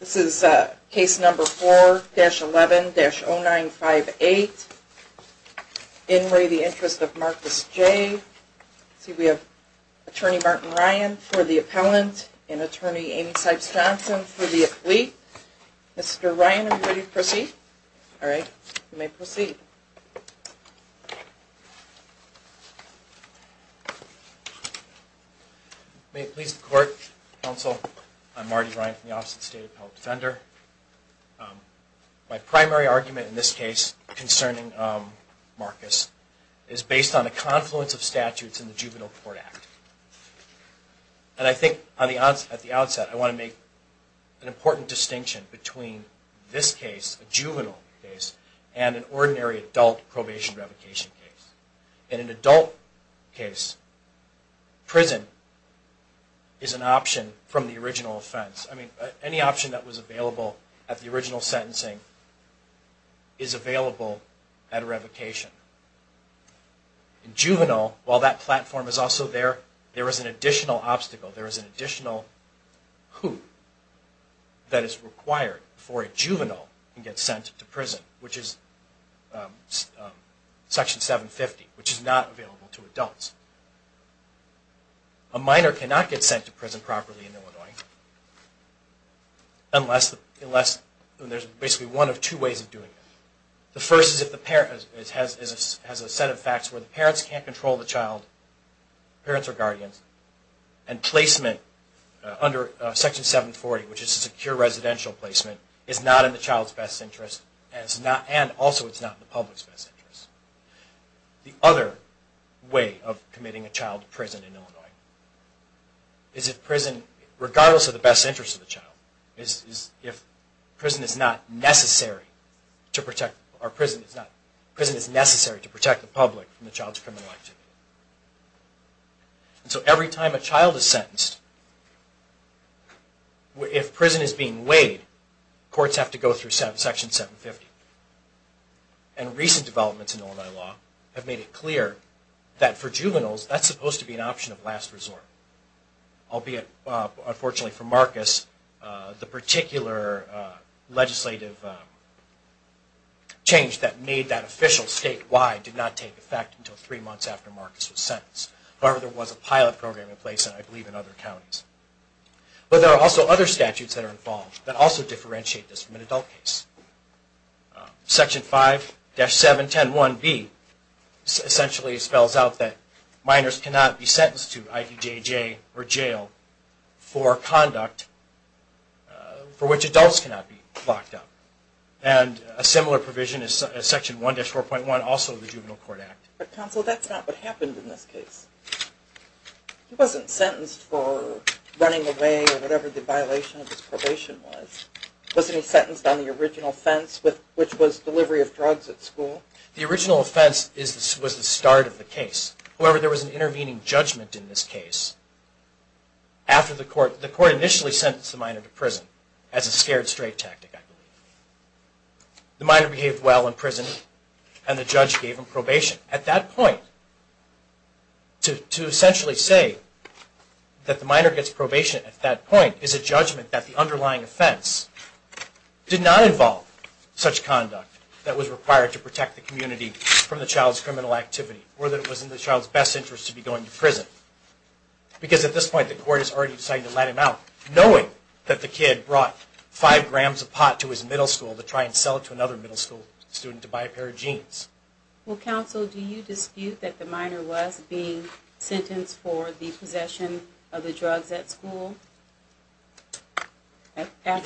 This is case number 4-11-0958. In re the interest of Marcus J. See we have attorney Martin Ryan for the appellant and attorney Amy Sipes Johnson for the defense. My primary argument in this case concerning Marcus is based on a confluence of statutes in the Juvenile Court Act. And I think at the outset I want to make an important distinction between this case, a juvenile case, and an ordinary adult probation revocation case. In an adult case, prison is an option that was available at the original sentencing is available at a revocation. In juvenile, while that platform is also there, there is an additional obstacle, there is an additional hoop that is required for a juvenile to get sent to prison, which is section 750, which is not available to unless there is basically one of two ways of doing it. The first is if the parent has a set of facts where the parents can't control the child, parents are guardians, and placement under section 740, which is a secure residential placement, is not in the child's best interest and also it's not in the public's best interest. The other way of committing a child to prison in juvenile is if prison is not necessary to protect, or prison is not, prison is necessary to protect the public from the child's criminal activity. So every time a child is sentenced, if prison is being weighed, courts have to go through section 750. And recent developments in Illinois law have made it clear that for juveniles that's supposed to be an option of last resort, albeit unfortunately for Marcus, the particular legislative change that made that official statewide did not take effect until three months after Marcus was sentenced. However, there was a pilot program in place, I believe, in other counties. But there are also other statutes that are involved that also differentiate this from an adult case. Section 5-7101B essentially spells out that minors cannot be sentenced to IPJJ or jail for conduct for which adults cannot be locked up. And a similar provision is section 1-4.1, also the Juvenile Court Act. But counsel, that's not what happened in this case. He wasn't sentenced for running away or whatever the violation of his probation was. Wasn't he sentenced on the original offense, which was delivery of drugs at school? The original offense was the start of the case. However, there was an intervening judgment in this case after the court, the court initially sentenced the minor to prison as a scared straight tactic, I believe. The minor behaved well in prison and the judge gave him probation. At that point, to essentially say that the minor gets probation at that point is a judgment that the underlying offense did not involve such conduct that was required to protect the community from the child's criminal activity or that it was in the child's best interest to be going to prison. Because at this point, the court has already decided to let him out, knowing that the kid brought five grams of pot to his middle school to try and sell it to another middle school student to buy a pair of jeans. Well, counsel, do you dispute that the minor was being sentenced for the possession of the drugs at school after the trial?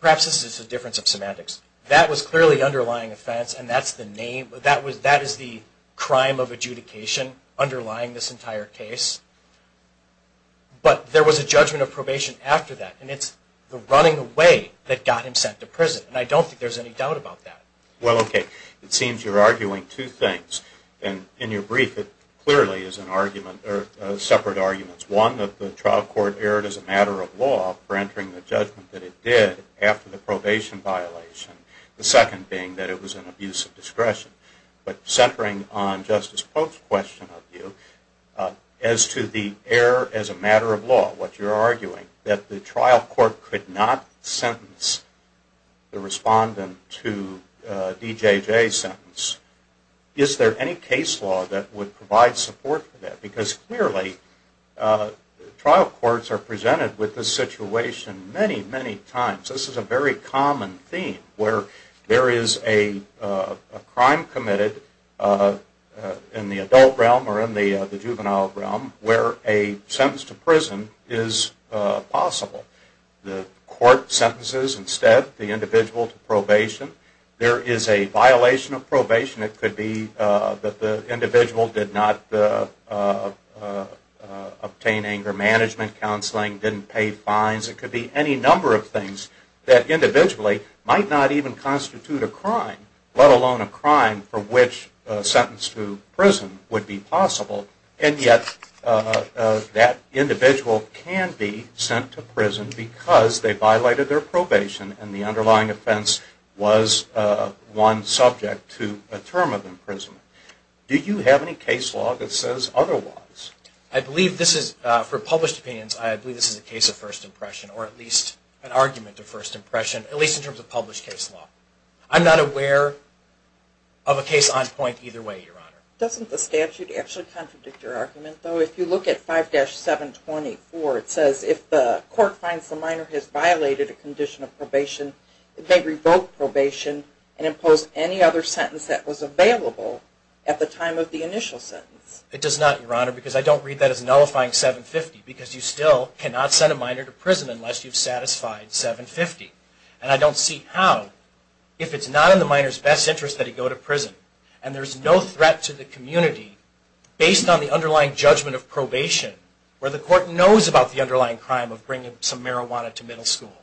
Perhaps this is a difference of semantics. That was clearly the underlying offense and that's the name, that is the crime of adjudication underlying this entire case. But there was a judgment of probation after that and it's the running away that got him sent to prison and I don't think there's any doubt about that. Well, okay. It seems you're arguing two things and in your brief it clearly is a separate argument. One, that the trial court erred as a matter of law for entering the judgment that it did after the probation violation. The second being that it was an abuse of discretion. But centering on Justice Pope's question of you, as to the error as a matter of law, what you're arguing, that the trial court could not sentence the respondent to a D.J.J. sentence, is there any case law that would provide support for that? Because clearly trial courts are presented with this situation many, many times. This is a very common theme where there is a crime committed in the adult realm or in the juvenile realm where a sentence to prison is possible. The court sentences instead the individual to probation. There is a violation of probation. It could be that the individual didn't obtain anger management counseling, didn't pay fines. It could be any number of things that individually might not even constitute a crime, let alone a crime for which a sentence to prison would be possible. And yet that individual can be sent to prison because they violated their probation and the underlying offense was one subject to a term of imprisonment. Do you have any case law that says otherwise? I believe this is, for published opinions, I believe this is a case of first impression or at least an argument of first impression, at least in terms of published case law. I'm not aware of a case on point either way, Your Honor. Doesn't the statute actually contradict your argument, though? If you look at 5-724, it says if the court finds the minor has violated a condition of probation, it may revoke probation and impose any other sentence that was available at the time of the initial sentence. It does not, Your Honor, because I don't read that as nullifying 750, because you still cannot send a minor to prison unless you've satisfied 750. And I don't see how, if it's not in the minor's best interest that he go to prison and there's no threat to the community based on the underlying judgment of probation, where the court knows about the underlying crime of some marijuana to middle school.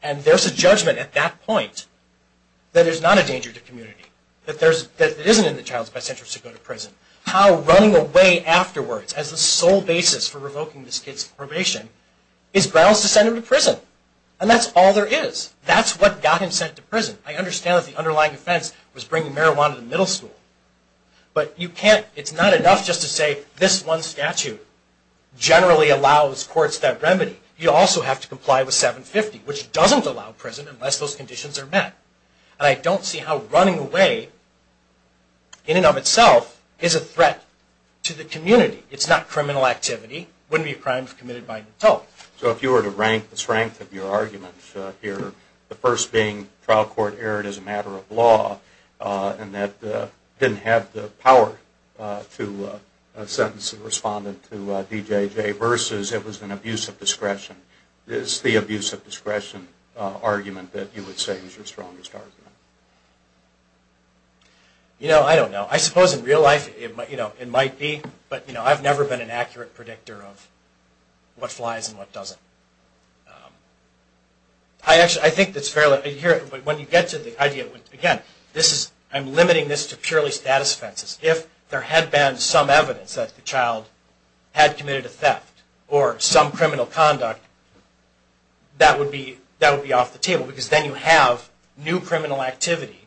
And there's a judgment at that point that there's not a danger to the community, that it isn't in the child's best interest to go to prison. How running away afterwards as the sole basis for revoking this kid's probation is grounds to send him to prison. And that's all there is. That's what got him sent to prison. I understand that the underlying offense was bringing marijuana to middle school. But you can't, it's not enough just to say this one statute generally allows courts that remedy. You also have to comply with 750, which doesn't allow prison unless those conditions are met. And I don't see how running away in and of itself is a threat to the community. It's not criminal activity. It wouldn't be a crime if committed by an adult. So if you were to rank the strength of your argument here, the first being trial court erred as a matter of law and that didn't have the power to sentence the respondent to D.J.J. versus it was an abuse of discretion. Is the abuse of discretion argument that you would say is your strongest argument? You know, I don't know. I suppose in real life it might be. But I've never been an accurate predictor of what flies and what doesn't. I actually, I think it's fairly, here, when you get to the idea, again, this is, I'm limiting this to purely status offenses. If there had been some evidence that the child had committed a theft or some criminal conduct, that would be off the table because then you have new criminal activity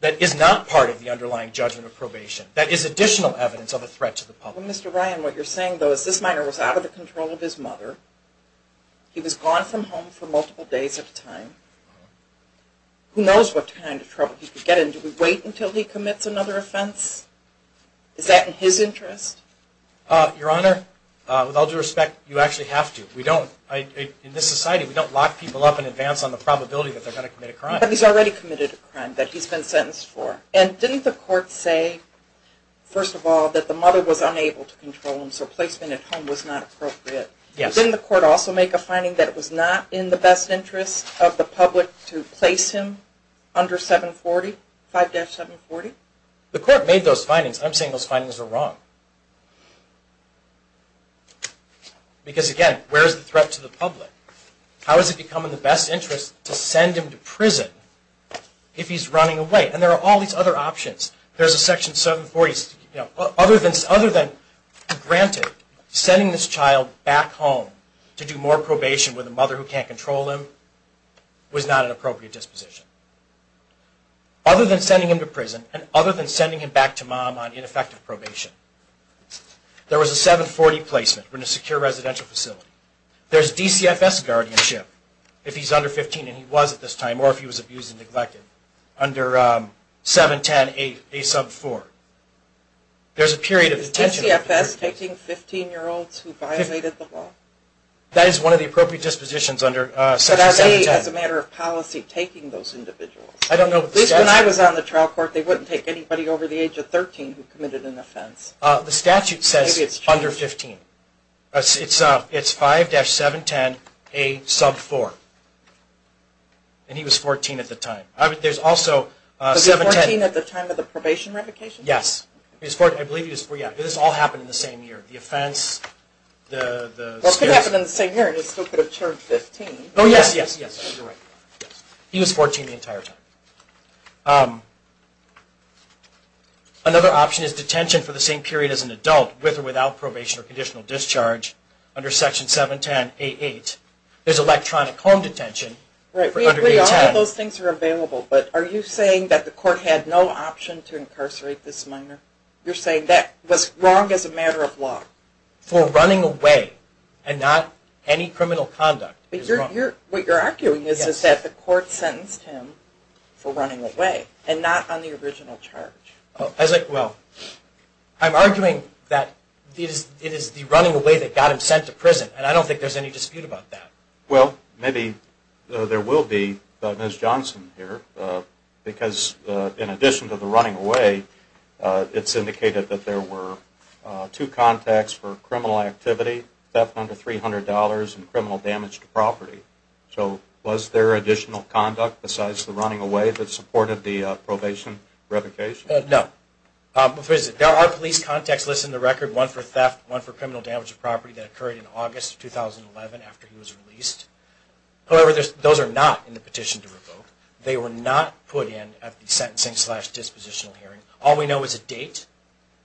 that is not part of the underlying judgment of probation. That is additional evidence of a threat to the public. Mr. Ryan, what you're saying though is this minor was out of the control of his mother. Who knows what kind of trouble he could get in. Do we wait until he commits another offense? Is that in his interest? Your Honor, with all due respect, you actually have to. We don't, in this society, we don't lock people up in advance on the probability that they're going to commit a crime. But he's already committed a crime that he's been sentenced for. And didn't the court say, first of all, that the mother was unable to control him so placement at home was not appropriate? Yes. Didn't the court also make a finding that it was not in the best interest of the public to place him under 740, 5-740? The court made those findings. I'm saying those findings are wrong. Because again, where is the threat to the public? How is it becoming in the best interest to send him to prison if he's running away? And there are all these other options. There's a Section 740, other than granted, sending this child back home to do more probation with a mother who can't control him was not an appropriate disposition. Other than sending him to prison and other than sending him back to mom on ineffective probation, there was a 740 placement in a secure residential facility. There's DCFS guardianship if he's under 15, and he was at this time, or if he was abused and neglected, under 710 A sub 4. There's a period of detention. Is DCFS taking 15 year olds who violated the law? That is one of the appropriate dispositions under Section 710. But as a matter of policy, taking those individuals? I don't know what the statute says. At least when I was on the trial court, they wouldn't take anybody over the age of 13 who committed an offense. The statute says under 15. It's 5-710 A sub 4. And he was 14 at the time. Was he 14 at the time of the probation revocation? Yes. I believe he was 14. This all happened in the same year. The offense, the... Well, it could have happened in the same year, and he still could have charged 15. Oh, yes, yes, yes. He was 14 the entire time. Another option is detention for the same period as an adult, with or without probation or conditional discharge, under Section 710 A8. There's electronic home detention for under 810. I mean, all of those things are available, but are you saying that the court had no option to incarcerate this minor? You're saying that was wrong as a matter of law? For running away, and not any criminal conduct. But what you're arguing is that the court sentenced him for running away, and not on the original charge. Well, I'm arguing that it is the running away that got him sent to prison, and I don't think there's any dispute about that. Well, maybe there will be, Ms. Johnson here, because in addition to the running away, it's indicated that there were two contacts for criminal activity, theft under $300, and criminal damage to property. So, was there additional conduct besides the running away that supported the probation revocation? No. There are police contacts listed in the record, one for theft, one for However, those are not in the petition to revoke. They were not put in at the sentencing slash dispositional hearing. All we know is a date,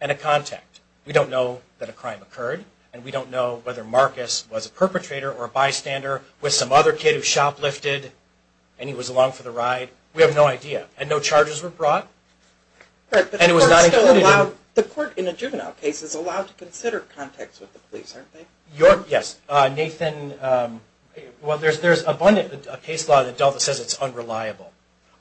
and a contact. We don't know that a crime occurred, and we don't know whether Marcus was a perpetrator or a bystander with some other kid who shoplifted, and he was along for the ride. We have no idea. And no charges were brought, and it was not included in the petition. The court in a juvenile case is allowed to consider contacts with the police, aren't they? Yes. Nathan, well, there's abundant case law that says it's unreliable.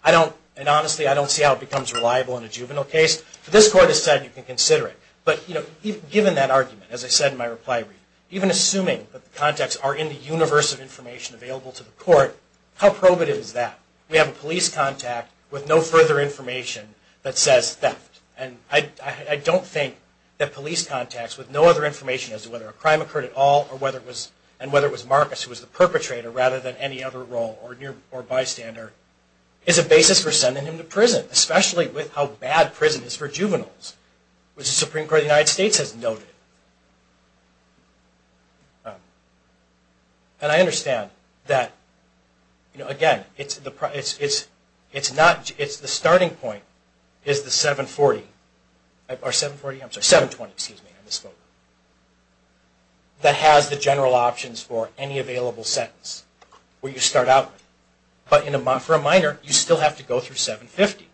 I don't, and honestly, I don't see how it becomes reliable in a juvenile case. This court has said you can consider it. But, you know, given that argument, as I said in my reply read, even assuming that the contacts are in the universe of information available to the court, how probative is that? We have a police contact with no further information that says theft. And I don't think that police contacts with no other information as to whether a crime occurred at all or whether it was, and whether it was Marcus who was the perpetrator rather than any other role or bystander is a basis for sending him to prison, especially with how bad prison is for juveniles, which the Supreme Court of the United States has noted. And I understand that, you know, again, it's the, it's not, it's the 740, or 740, I'm sorry, 720, excuse me, I misspoke, that has the general options for any available sentence where you start out. But for a minor, you still have to go through 750.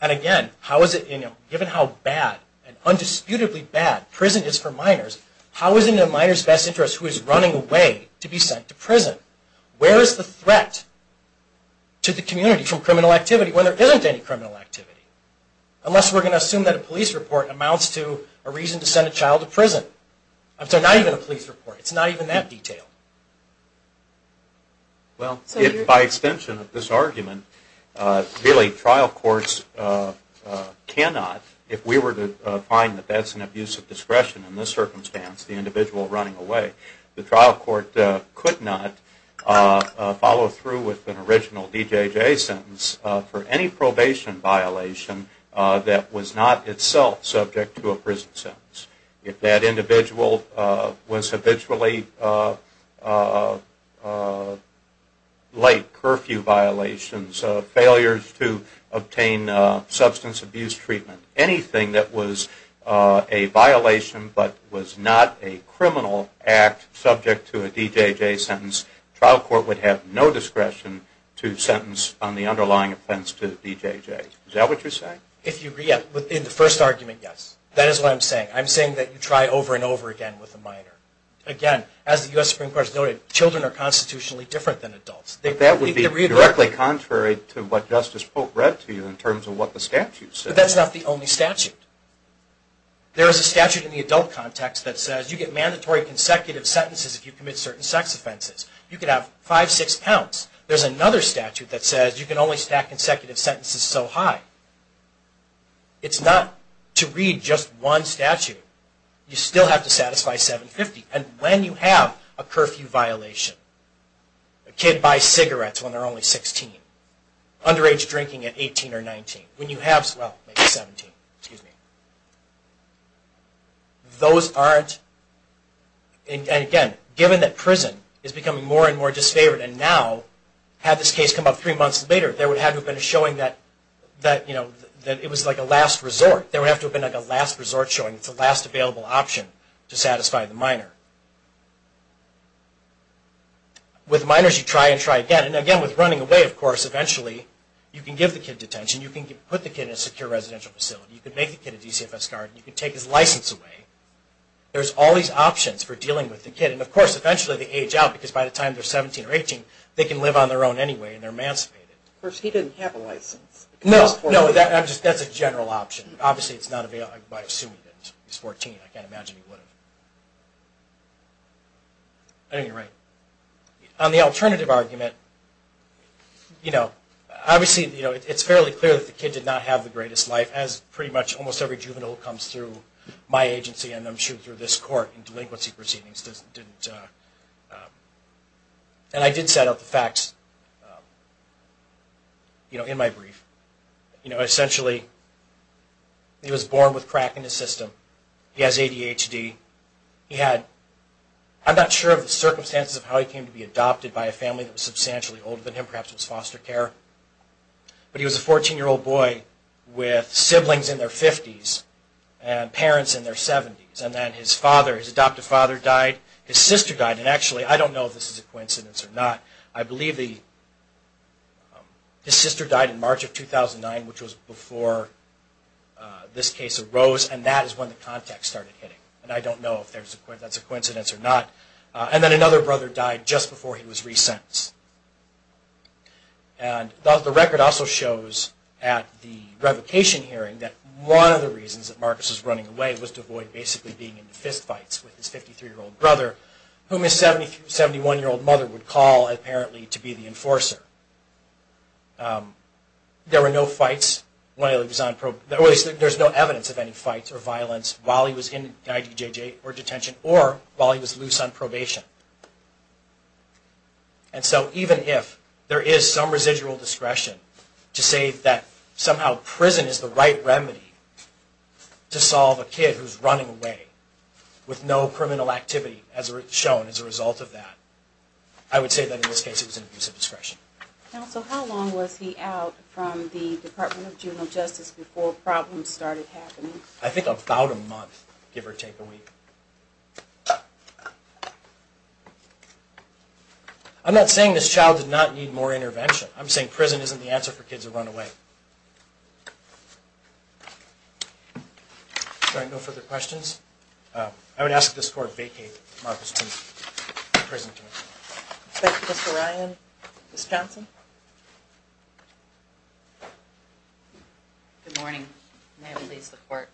And again, how is it, you know, given how bad and undisputedly bad prison is for minors, how is it in a minor's best interest who is running away to be sent to prison? Where is the threat to the community from criminal activity when there isn't any criminal activity? Unless we're going to assume that a police report amounts to a reason to send a child to prison. I'm sorry, not even a police report. It's not even that detailed. Well, if by extension of this argument, really trial courts cannot, if we were to find that that's an abuse of discretion in this circumstance, the individual running away, the trial court could not follow through with an any probation violation that was not itself subject to a prison sentence. If that individual was habitually late, curfew violations, failures to obtain substance abuse treatment, anything that was a violation but was not a criminal act subject to a DJJ sentence, trial court would have no obligation to bring offense to the DJJ. Is that what you're saying? If you agree in the first argument, yes. That is what I'm saying. I'm saying that you try over and over again with a minor. Again, as the U.S. Supreme Court has noted, children are constitutionally different than adults. That would be directly contrary to what Justice Pope read to you in terms of what the statute says. But that's not the only statute. There is a statute in the adult context that says you get mandatory consecutive sentences if you commit certain sex offenses. You could have five, six counts. There's another statute that says you can only stack consecutive sentences so high. It's not to read just one statute. You still have to satisfy 750. And when you have a curfew violation, a kid buys cigarettes when they're only 16, underage drinking at 18 or 19, when you have, well, maybe 17. Those aren't, and again, given that prison is becoming more and more had this case come up three months later, there would have to have been a showing that it was like a last resort. There would have to have been like a last resort showing it's the last available option to satisfy the minor. With minors, you try and try again. And again, with running away, of course, eventually you can give the kid detention. You can put the kid in a secure residential facility. You can make the kid a DCFS guard. You can take his license away. There's all these options for dealing with the kid. And of course, eventually they age out because by the time they're 17 or 18, they can live on their own anyway and they're emancipated. Of course, he didn't have a license. No, no, that's a general option. Obviously, it's not available. I assume he didn't. He's 14. I can't imagine he would have. I think you're right. On the alternative argument, you know, obviously, you know, it's fairly clear that the kid did not have the greatest life, as pretty much almost every juvenile comes through my agency and I'm sure through this court and delinquency proceedings didn't. And I did set out the facts, you know, in my brief. You know, essentially, he was born with crack in his system. He has ADHD. He had, I'm not sure of the circumstances of how he came to be adopted by a family that was substantially older than him. Perhaps it was foster care. But he was a 14-year-old boy with siblings in their 50s and parents in their 70s. And then his father, his adoptive father died. His sister died. And actually, I don't know if this is a coincidence or not. I believe his sister died in March of 2009, which was before this case arose. And that is when the contacts started hitting. And I don't know if that's a coincidence or not. And then another brother died just before he was resentenced. And the record also shows at the revocation hearing that one of the reasons that Marcus was running away was to avoid basically being in fist with his brother, whom his 71-year-old mother would call, apparently, to be the enforcer. There were no fights while he was on probation. There's no evidence of any fights or violence while he was in IDJJ or detention or while he was loose on probation. And so even if there is some residual discretion to say that somehow prison is the right remedy to solve a kid who's running away with no criminal activity as shown as a result of that, I would say that in this case it was an abuse of discretion. Counsel, how long was he out from the Department of Juvenile Justice before problems started happening? I think about a month, give or take a week. I'm not saying this child did not need more intervention. I'm saying prison isn't the answer for kids who run away. Are there no further questions? I would ask this Court vacate Marcus' presentation. Thank you, Mr. Ryan. Ms. Johnson? Good morning. May it please the Court.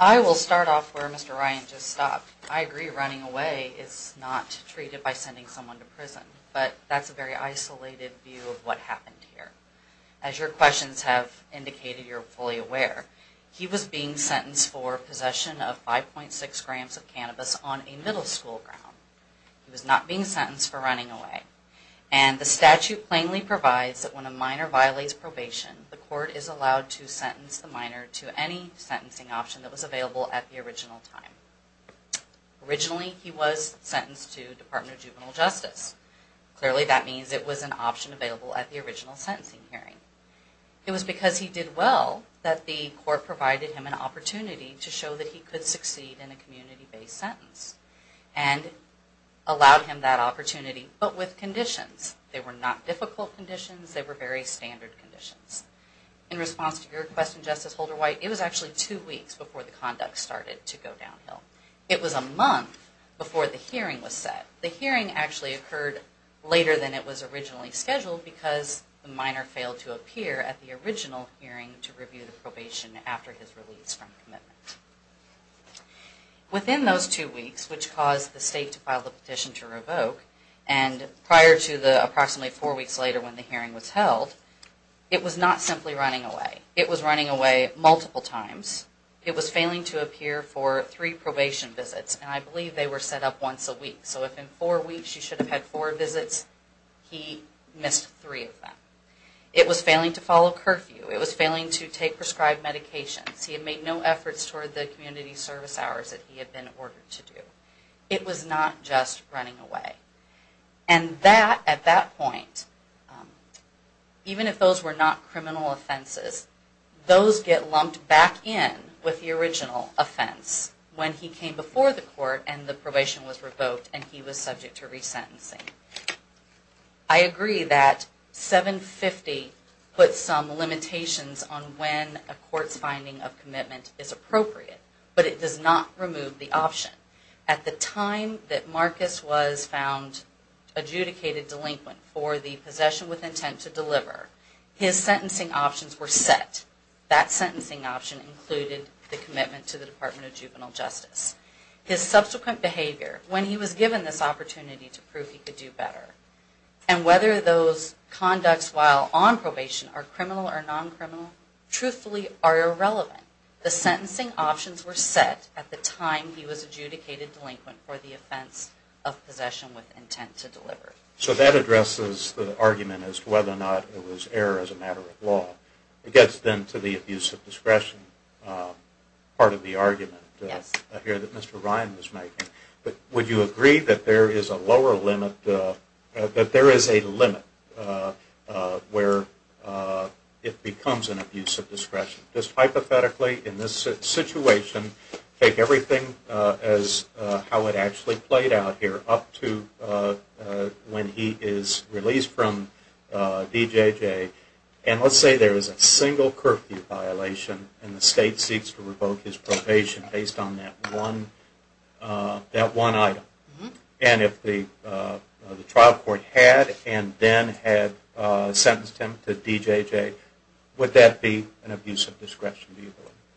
I will start off where Mr. Ryan just stopped. I agree running away is not treated by sending someone to prison, but that's a very isolated view of what happened here. As your questions have indicated, you're fully aware. He was being sentenced for possession of 5.6 grams of cannabis on a middle school ground. He was not being sentenced for running away. And the statute plainly provides that when a minor violates probation, the Court is allowed to sentence the minor to any sentencing option that was available at the original time. Originally he was sentenced to Department of Juvenile Justice. Clearly that means it was an option available at the original sentencing hearing. It was because he did well that the Court provided him an opportunity to show that he could succeed in a community-based sentence and allowed him that opportunity, but with conditions. They were not difficult conditions, they were very standard conditions. In response to your question, Justice Holder-White, it was actually two weeks before the conduct started to go downhill. It was a month before the hearing was set. The hearing actually occurred later than it was originally scheduled because the minor failed to appear at the original hearing to review the probation after his release from commitment. Within those two weeks, which caused the State to file the petition to revoke, and prior to the approximately four weeks later when the hearing was held, it was not simply running away. It was running away multiple times. It was failing to appear for three probation visits, and I believe they were set up once a week. So if in four weeks you should have had four visits, he missed three of them. It was failing to follow curfew, it was failing to take prescribed medications, he had made no efforts toward the community service hours that he had been ordered to do. It was not just running away. And that, at that point, even if those were not criminal offenses, those get lumped back in with the original offense when he came before the Court and the probation was revoked and he was subject to resentencing. I agree that 750 puts some limitations on when a court's finding of commitment is appropriate, but it does not remove the option. At the time that Marcus was found adjudicated delinquent for the possession with intent to deliver, his sentencing options were set. That sentencing option included the commitment to the Department of Juvenile Justice. His subsequent behavior, when he was given this opportunity to prove he could do better, and whether those conducts while on probation are criminal or non-criminal, truthfully are irrelevant. The sentencing options were set at the time he was adjudicated delinquent for the offense of possession with intent to deliver. So that addresses the argument as to whether or not it was error as a matter of law. It gets then to the abuse of discretion part of the argument. Yes. I hear that Mr. Ryan was making. Would you agree that there is a lower limit, that there is a limit where it becomes an abuse of discretion? Just hypothetically, in this situation, take everything as how it actually played out here up to when he is released from DJJ, and let's say there is a single curfew violation and the state seeks to revoke his probation based on that one item, and if the trial court had and then had sentenced him to DJJ, would that be an abuse of discretion?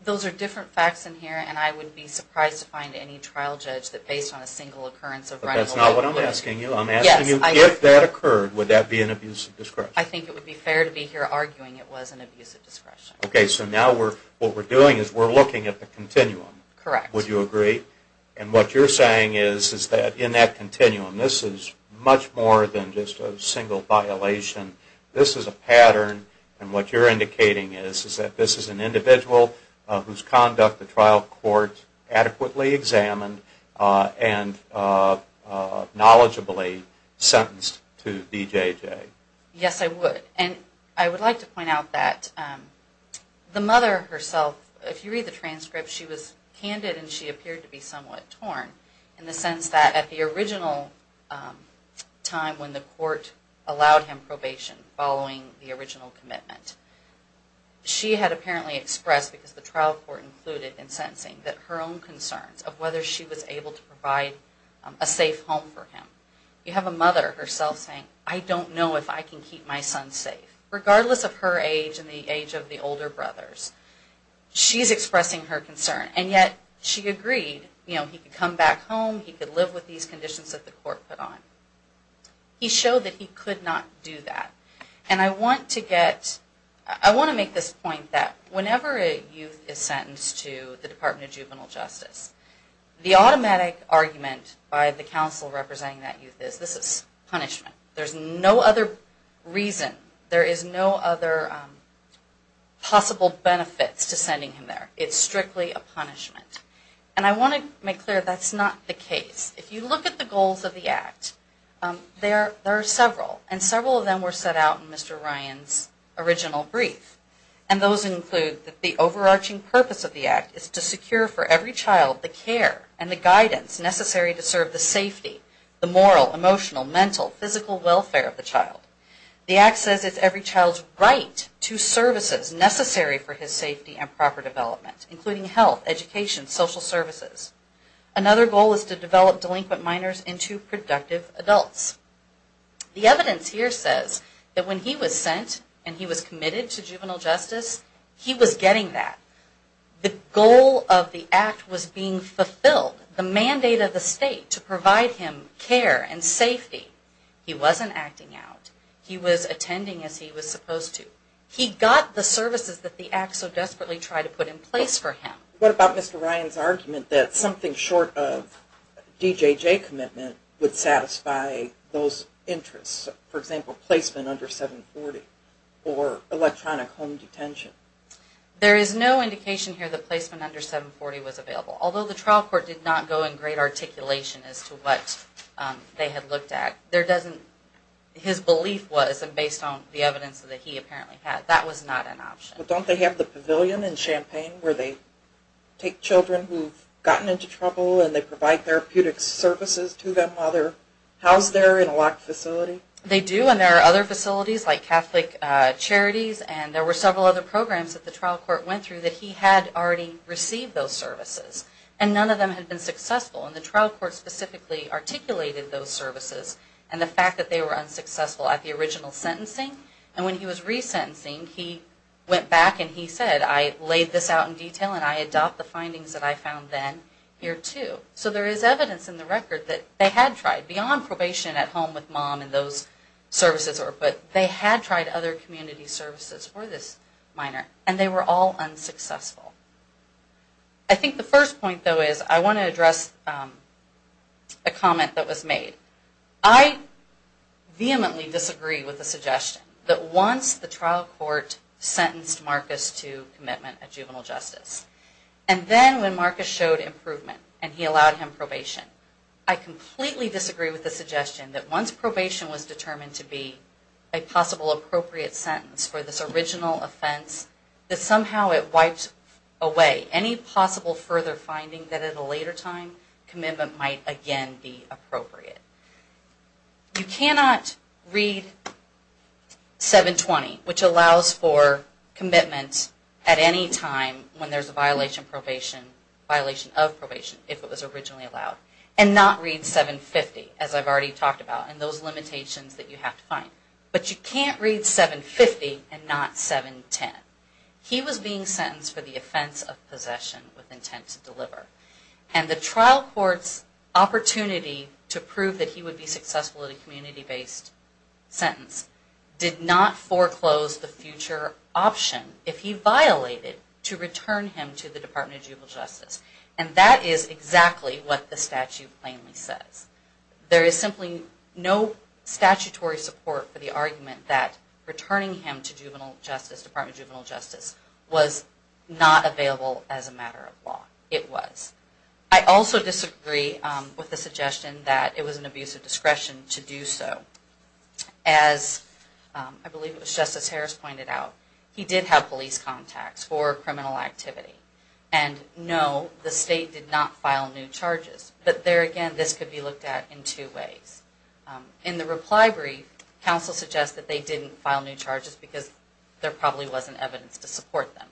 Those are different facts in here, and I would be surprised to find any trial judge that based on a single occurrence of running away with it. But that's not what I'm asking you, I'm asking you if that occurred, would that be an abuse of discretion? I think it would be fair to be here arguing it was an abuse of discretion. Okay, so now what we're doing is we're looking at the continuum. Correct. Would you agree? And what you're saying is that in that continuum, this is much more than just a single violation, this is a pattern, and what you're indicating is that this is an individual whose conduct the trial court adequately examined and knowledgeably sentenced to DJJ. Yes, I would. And I would like to point out that the mother herself, if you read the transcript, she was candid and she appeared to be somewhat torn in the sense that at the original time when the court allowed him probation following the original commitment, she had apparently expressed because the trial court included in sentencing that her own concerns of whether she was able to provide a safe home for him. You have a mother herself saying, I don't know if I can keep my son safe, regardless of her age and the age of the older brothers. She's expressing her concern and yet she agreed, you know, he could come back home, he could live with these conditions that the court put on. He showed that he could not do that and I want to get, I want to make this point that whenever a youth is sentenced to the Department of Juvenile Justice, the automatic argument by the counsel representing that youth is this is punishment. There's no other reason, there is no other possible benefits to sending him there. It's strictly a punishment. And I want to make clear that's not the case. If you look at the goals of the Act, there are several and several of them were set out in Mr. Ryan's original brief. And those include that the overarching purpose of the Act is to secure for every child the care and the guidance necessary to serve the safety, the moral, emotional, mental, physical welfare of the child. The Act says it's every child's right to services necessary for his safety and proper development, including health, education, social services. Another goal is to develop delinquent minors into productive adults. The evidence here says that when he was sent and he was committed to juvenile justice, he was getting that. The goal of the Act was being fulfilled. The mandate of the state to provide him care and safety. He wasn't acting out. He was attending as he was supposed to. He got the services that the Act so desperately tried to put in place for him. What about Mr. Ryan's argument that something short of a DJJ commitment would satisfy those interests, for example, placement under 740 or electronic home detention? There is no indication here that placement under 740 was available, although the trial court did not go in great articulation as to what they had looked at. His belief was, and based on the evidence that he apparently had, that was not an option. But don't they have the pavilion in Champaign where they take children who've gotten into trouble and they provide therapeutic services to them while they're housed there in a locked facility? They do and there are other facilities like Catholic Charities and there were several other programs that the trial court went through that he had already received those services and none of them had been successful. The trial court specifically articulated those services and the fact that they were unsuccessful at the original sentencing and when he was resentencing, he went back and he said, I laid this out in detail and I adopt the findings that I found then here too. So there is evidence in the record that they had tried, beyond probation at home with mom and those services, but they had tried other community services for this minor and they were all unsuccessful. I think the first point though is I want to address a comment that was made. I vehemently disagree with the suggestion that once the trial court sentenced Marcus to commitment of juvenile justice and then when Marcus showed improvement and he allowed him probation, I completely disagree with the suggestion that once probation was determined to be a possible appropriate sentence for this original offense, that somehow it wipes away any possible further finding that at a later time commitment might again be appropriate. You cannot read 720, which allows for commitment at any time when there's a violation of probation if it was originally allowed, and not read 750 as I've already talked about and those limitations that you have to find. But you can't read 750 and not 710. He was being sentenced for the offense of possession with intent to deliver. And the trial court's opportunity to prove that he would be successful at a community-based sentence did not foreclose the future option if he violated to return him to the Department of Juvenile Justice. And that is exactly what the statute plainly says. There is simply no statutory support for the argument that returning him to the Department of Juvenile Justice was not available as a matter of law. It was. I also disagree with the suggestion that it was an abuse of discretion to do so. As I believe it was Justice Harris pointed out, he did have police contacts for criminal activity. And no, the state did not file new charges. But there again, this could be looked at in two ways. In the reply brief, counsel suggests that they didn't file new charges because there probably wasn't evidence to support them.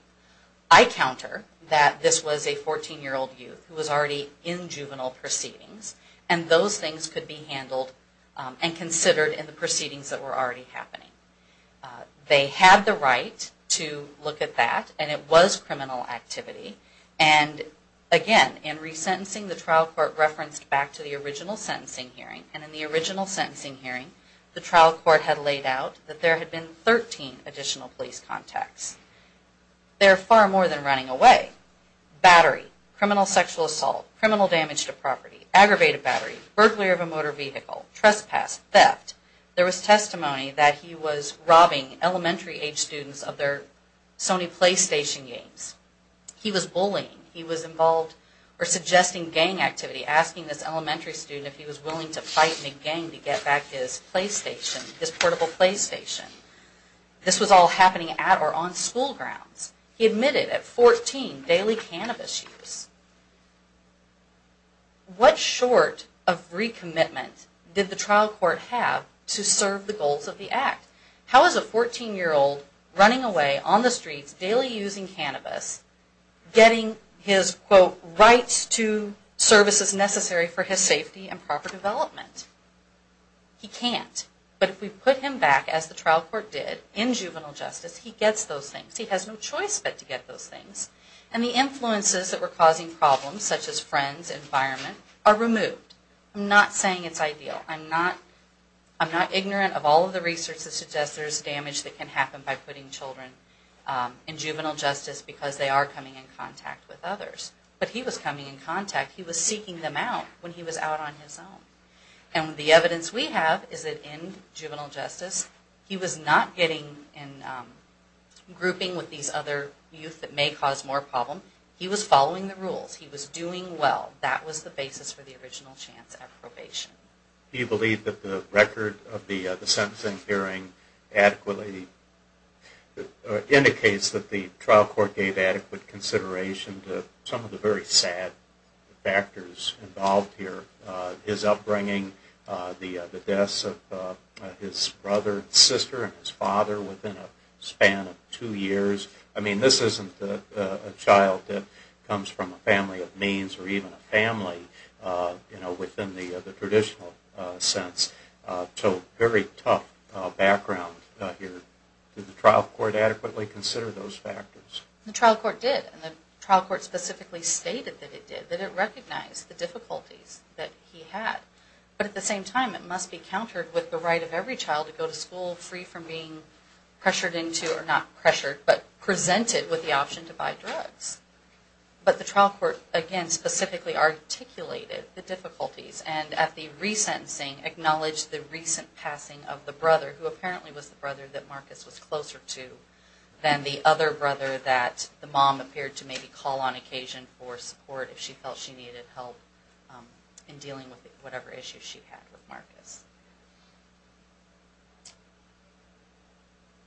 I counter that this was a 14-year-old youth who was already in juvenile proceedings and those things could be handled and considered in the proceedings that were already happening. They had the right to look at that and it was criminal activity. And again, in resentencing, the trial court referenced back to the original sentencing hearing. And in the original sentencing hearing, the trial court had laid out that there had been 13 additional police contacts. They're far more than running away. Battery, criminal sexual assault, criminal damage to property, aggravated battery, burglary of a motor vehicle, trespass, theft. There was testimony that he was robbing elementary age students of their Sony PlayStation games. He was bullying. He was involved or suggesting gang activity, asking this elementary student if he was willing to fight in a gang to get back his PlayStation, his portable PlayStation. This was all happening at or on school grounds. He admitted at 14, daily cannabis use. What short of recommitment did the trial court have to serve the goals of the act? How is a 14-year-old running away on the streets, daily using cannabis, getting his, quote, rights to services necessary for his safety and proper development? He can't. But if we put him back, as the trial court did, in juvenile justice, he gets those things. He has no choice but to get those things. And the influences that were causing problems, such as friends, environment, are removed. I'm not saying it's ideal. I'm not ignorant of all of the research that suggests there's damage that can happen by putting children in juvenile justice because they are coming in contact with others. But he was coming in contact. He was seeking them out when he was out on his own. And the evidence we have is that in juvenile justice, he was not getting in grouping with these other youth that may cause more problem. He was following the rules. He was doing well. That was the basis for the original chance at probation. Do you believe that the record of the sentencing hearing adequately indicates that the trial court gave adequate consideration to some of the very sad factors involved here? His upbringing, the deaths of his brother and sister and his father within a span of two years. I mean, this isn't a child that comes from a family of means or even a family, you know, within the traditional sense. So very tough background here. Did the trial court adequately consider those factors? The trial court did. And the trial court specifically stated that it did, that it recognized the difficulties that he had. But at the same time, it must be countered with the right of every child to go to school free from being pressured into, or not pressured, but presented with the option to buy drugs. But the trial court, again, specifically articulated the difficulties and at the re-sentencing acknowledged the recent passing of the brother, who apparently was the brother that Marcus was closer to, than the other brother that the mom appeared to maybe call on occasion for support if she felt she needed help in dealing with whatever issues she had with Marcus.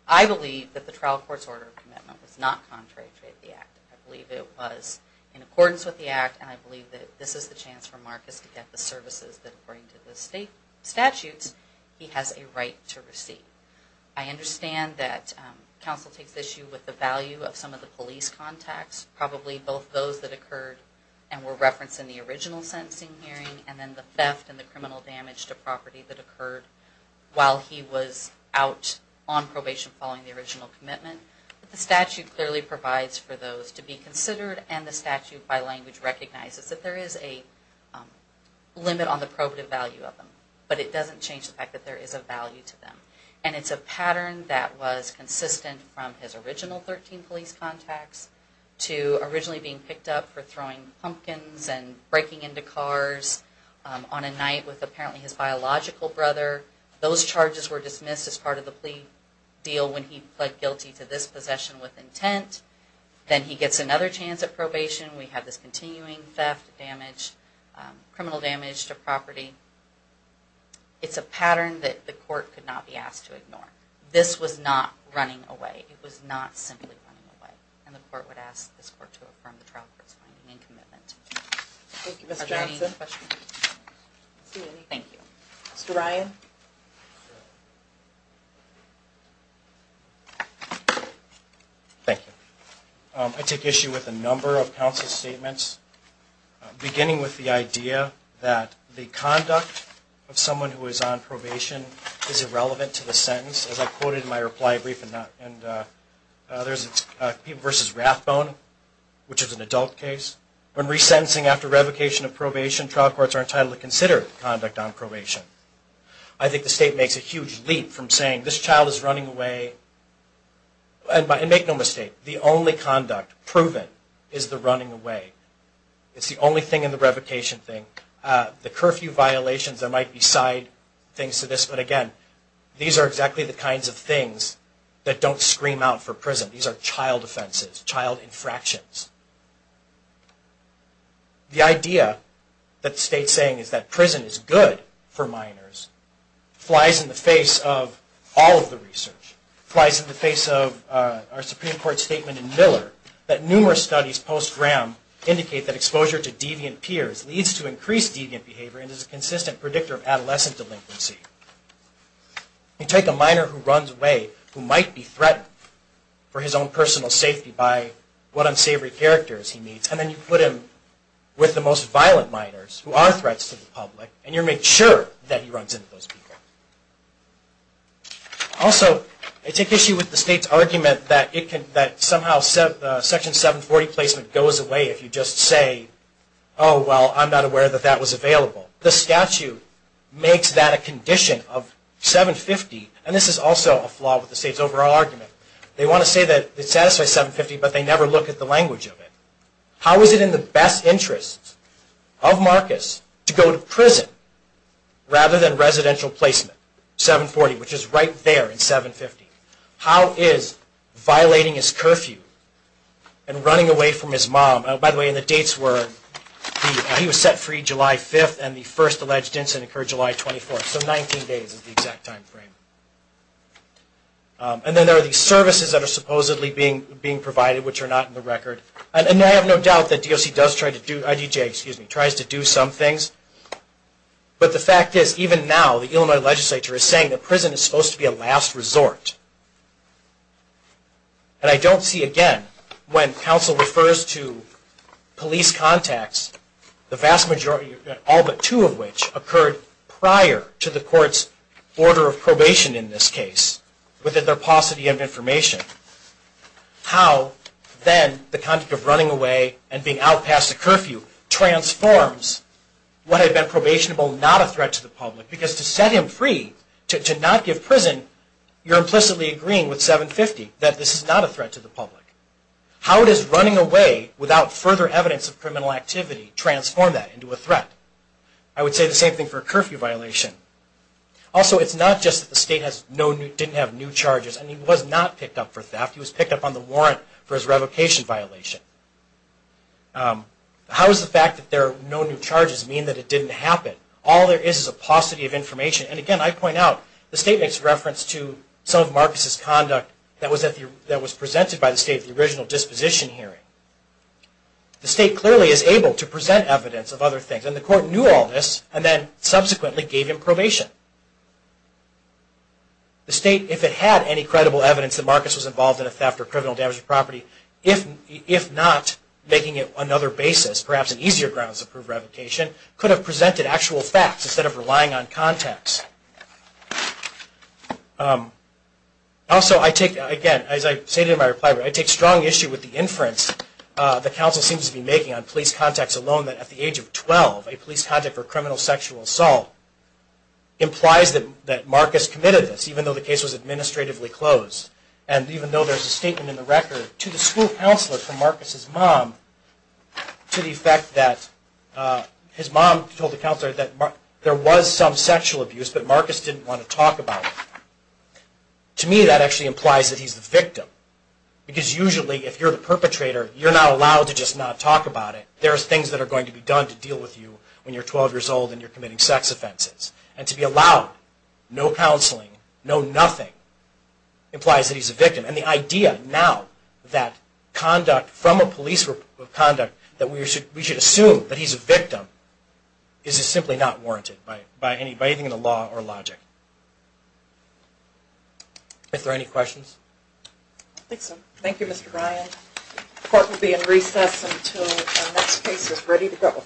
I believe that the trial court's order of commitment was not contrary to the Act. I believe it was in accordance with the Act and I believe that this is the chance for Marcus to get the services that, according to the state statutes, he has a right to receive. I understand that counsel takes issue with the value of some of the police contacts, probably both those that occurred and were referenced in the original sentencing hearing, and then the theft and the criminal damage to property that occurred while he was out on probation following the original commitment. But the statute clearly provides for those to be considered and the statute by language recognizes that there is a limit on the probative value of them. But it doesn't change the fact that there is a value to them. And it's a pattern that was consistent from his original 13 police contacts to originally being picked up for throwing pumpkins and breaking into cars on a night with apparently his biological brother. Those charges were dismissed as part of the plea deal when he pled guilty to this possession with intent. Then he gets another chance at probation. We have this continuing theft, damage, criminal damage to property. It's a pattern that the court could not be asked to ignore. This was not running away. It was not simply running away. And the court would ask this court to affirm the trial court's finding and commitment. Thank you, Mr. Johnson. Are there any questions? Thank you. Mr. Ryan? Thank you. I take issue with a number of counsel's statements, beginning with the idea that the conduct of someone who is on probation is irrelevant to the sentence. As I quoted in my reply brief, and there's a People v. Rathbone, which is an adult case. When resentencing after revocation of probation, trial courts are entitled to consider conduct on probation. I think the state makes a huge leap from saying this child is running away and make no mistake, the only conduct proven is the running away. It's the only thing in the revocation thing. The curfew violations, there might be side things to this, but again, these are exactly the kinds of things that don't scream out for prison. These are child offenses, child infractions. The idea that the state is saying is that prison is good for minors flies in the face of all of the research, flies in the face of our Supreme Court statement in Miller that numerous studies post-Graham indicate that exposure to deviant peers leads to increased deviant behavior and is a consistent predictor of adolescent delinquency. You take a minor who runs away who might be threatened for his own personal safety by what unsavory characters he meets, and then you put him with the most violent minors who are threats to the public, and you make sure that he runs into those people. Also, I take issue with the state's argument that somehow Section 740 placement goes away if you just say, oh, well, I'm not aware that that was available. The statute makes that a condition of 750, and this is also a flaw with the state's overall argument. They want to say that it satisfies 750, but they never look at the language of it. How is it in the best interest of Marcus to go to prison rather than residential placement, 740, which is right there in 750? How is violating his curfew and running away from his mom, and by the way, the dates were he was set free July 5th and the first alleged incident occurred July 24th, so 19 days is the exact time frame. And then there are these services that are supposedly being provided which are not in the record. And I have no doubt that DOC does try to do, IDJ, excuse me, tries to do some things, but the fact is, even now, the Illinois legislature is saying that prison is supposed to be a last resort, and I don't see, again, when counsel refers to police contacts, the vast majority, all but two of which occurred prior to the court's order of probation in this context of running away and being out past a curfew transforms what had been probationable not a threat to the public, because to set him free, to not give prison, you're implicitly agreeing with 750 that this is not a threat to the public. How does running away without further evidence of criminal activity transform that into a threat? I would say the same thing for a curfew violation. Also it's not just that the state didn't have new charges, and he was not picked up for probation. How does the fact that there are no new charges mean that it didn't happen? All there is is a paucity of information, and again, I point out, the state makes reference to some of Marcus's conduct that was presented by the state at the original disposition hearing. The state clearly is able to present evidence of other things, and the court knew all this, and then subsequently gave him probation. The state, if it had any credible evidence that Marcus was involved in a theft or criminal damage to property, if not making it another basis, perhaps an easier grounds to prove revocation, could have presented actual facts instead of relying on context. Also I take, again, as I stated in my reply, I take strong issue with the inference the council seems to be making on police contacts alone, that at the age of 12, a police contact for criminal sexual assault implies that Marcus committed this, even though the case was administratively there's a statement in the record to the school counselor from Marcus's mom to the effect that his mom told the counselor that there was some sexual abuse, but Marcus didn't want to talk about it. To me, that actually implies that he's the victim, because usually if you're the perpetrator, you're not allowed to just not talk about it. There's things that are going to be done to deal with you when you're 12 years old and you're committing sex offenses. To be allowed no counseling, no nothing, implies that he's a victim. The idea now that conduct from a police report of conduct that we should assume that he's a victim, is simply not warranted by anything in the law or logic. Are there any questions? Thank you, Mr. Ryan. The court will be in recess until our next case is ready to go.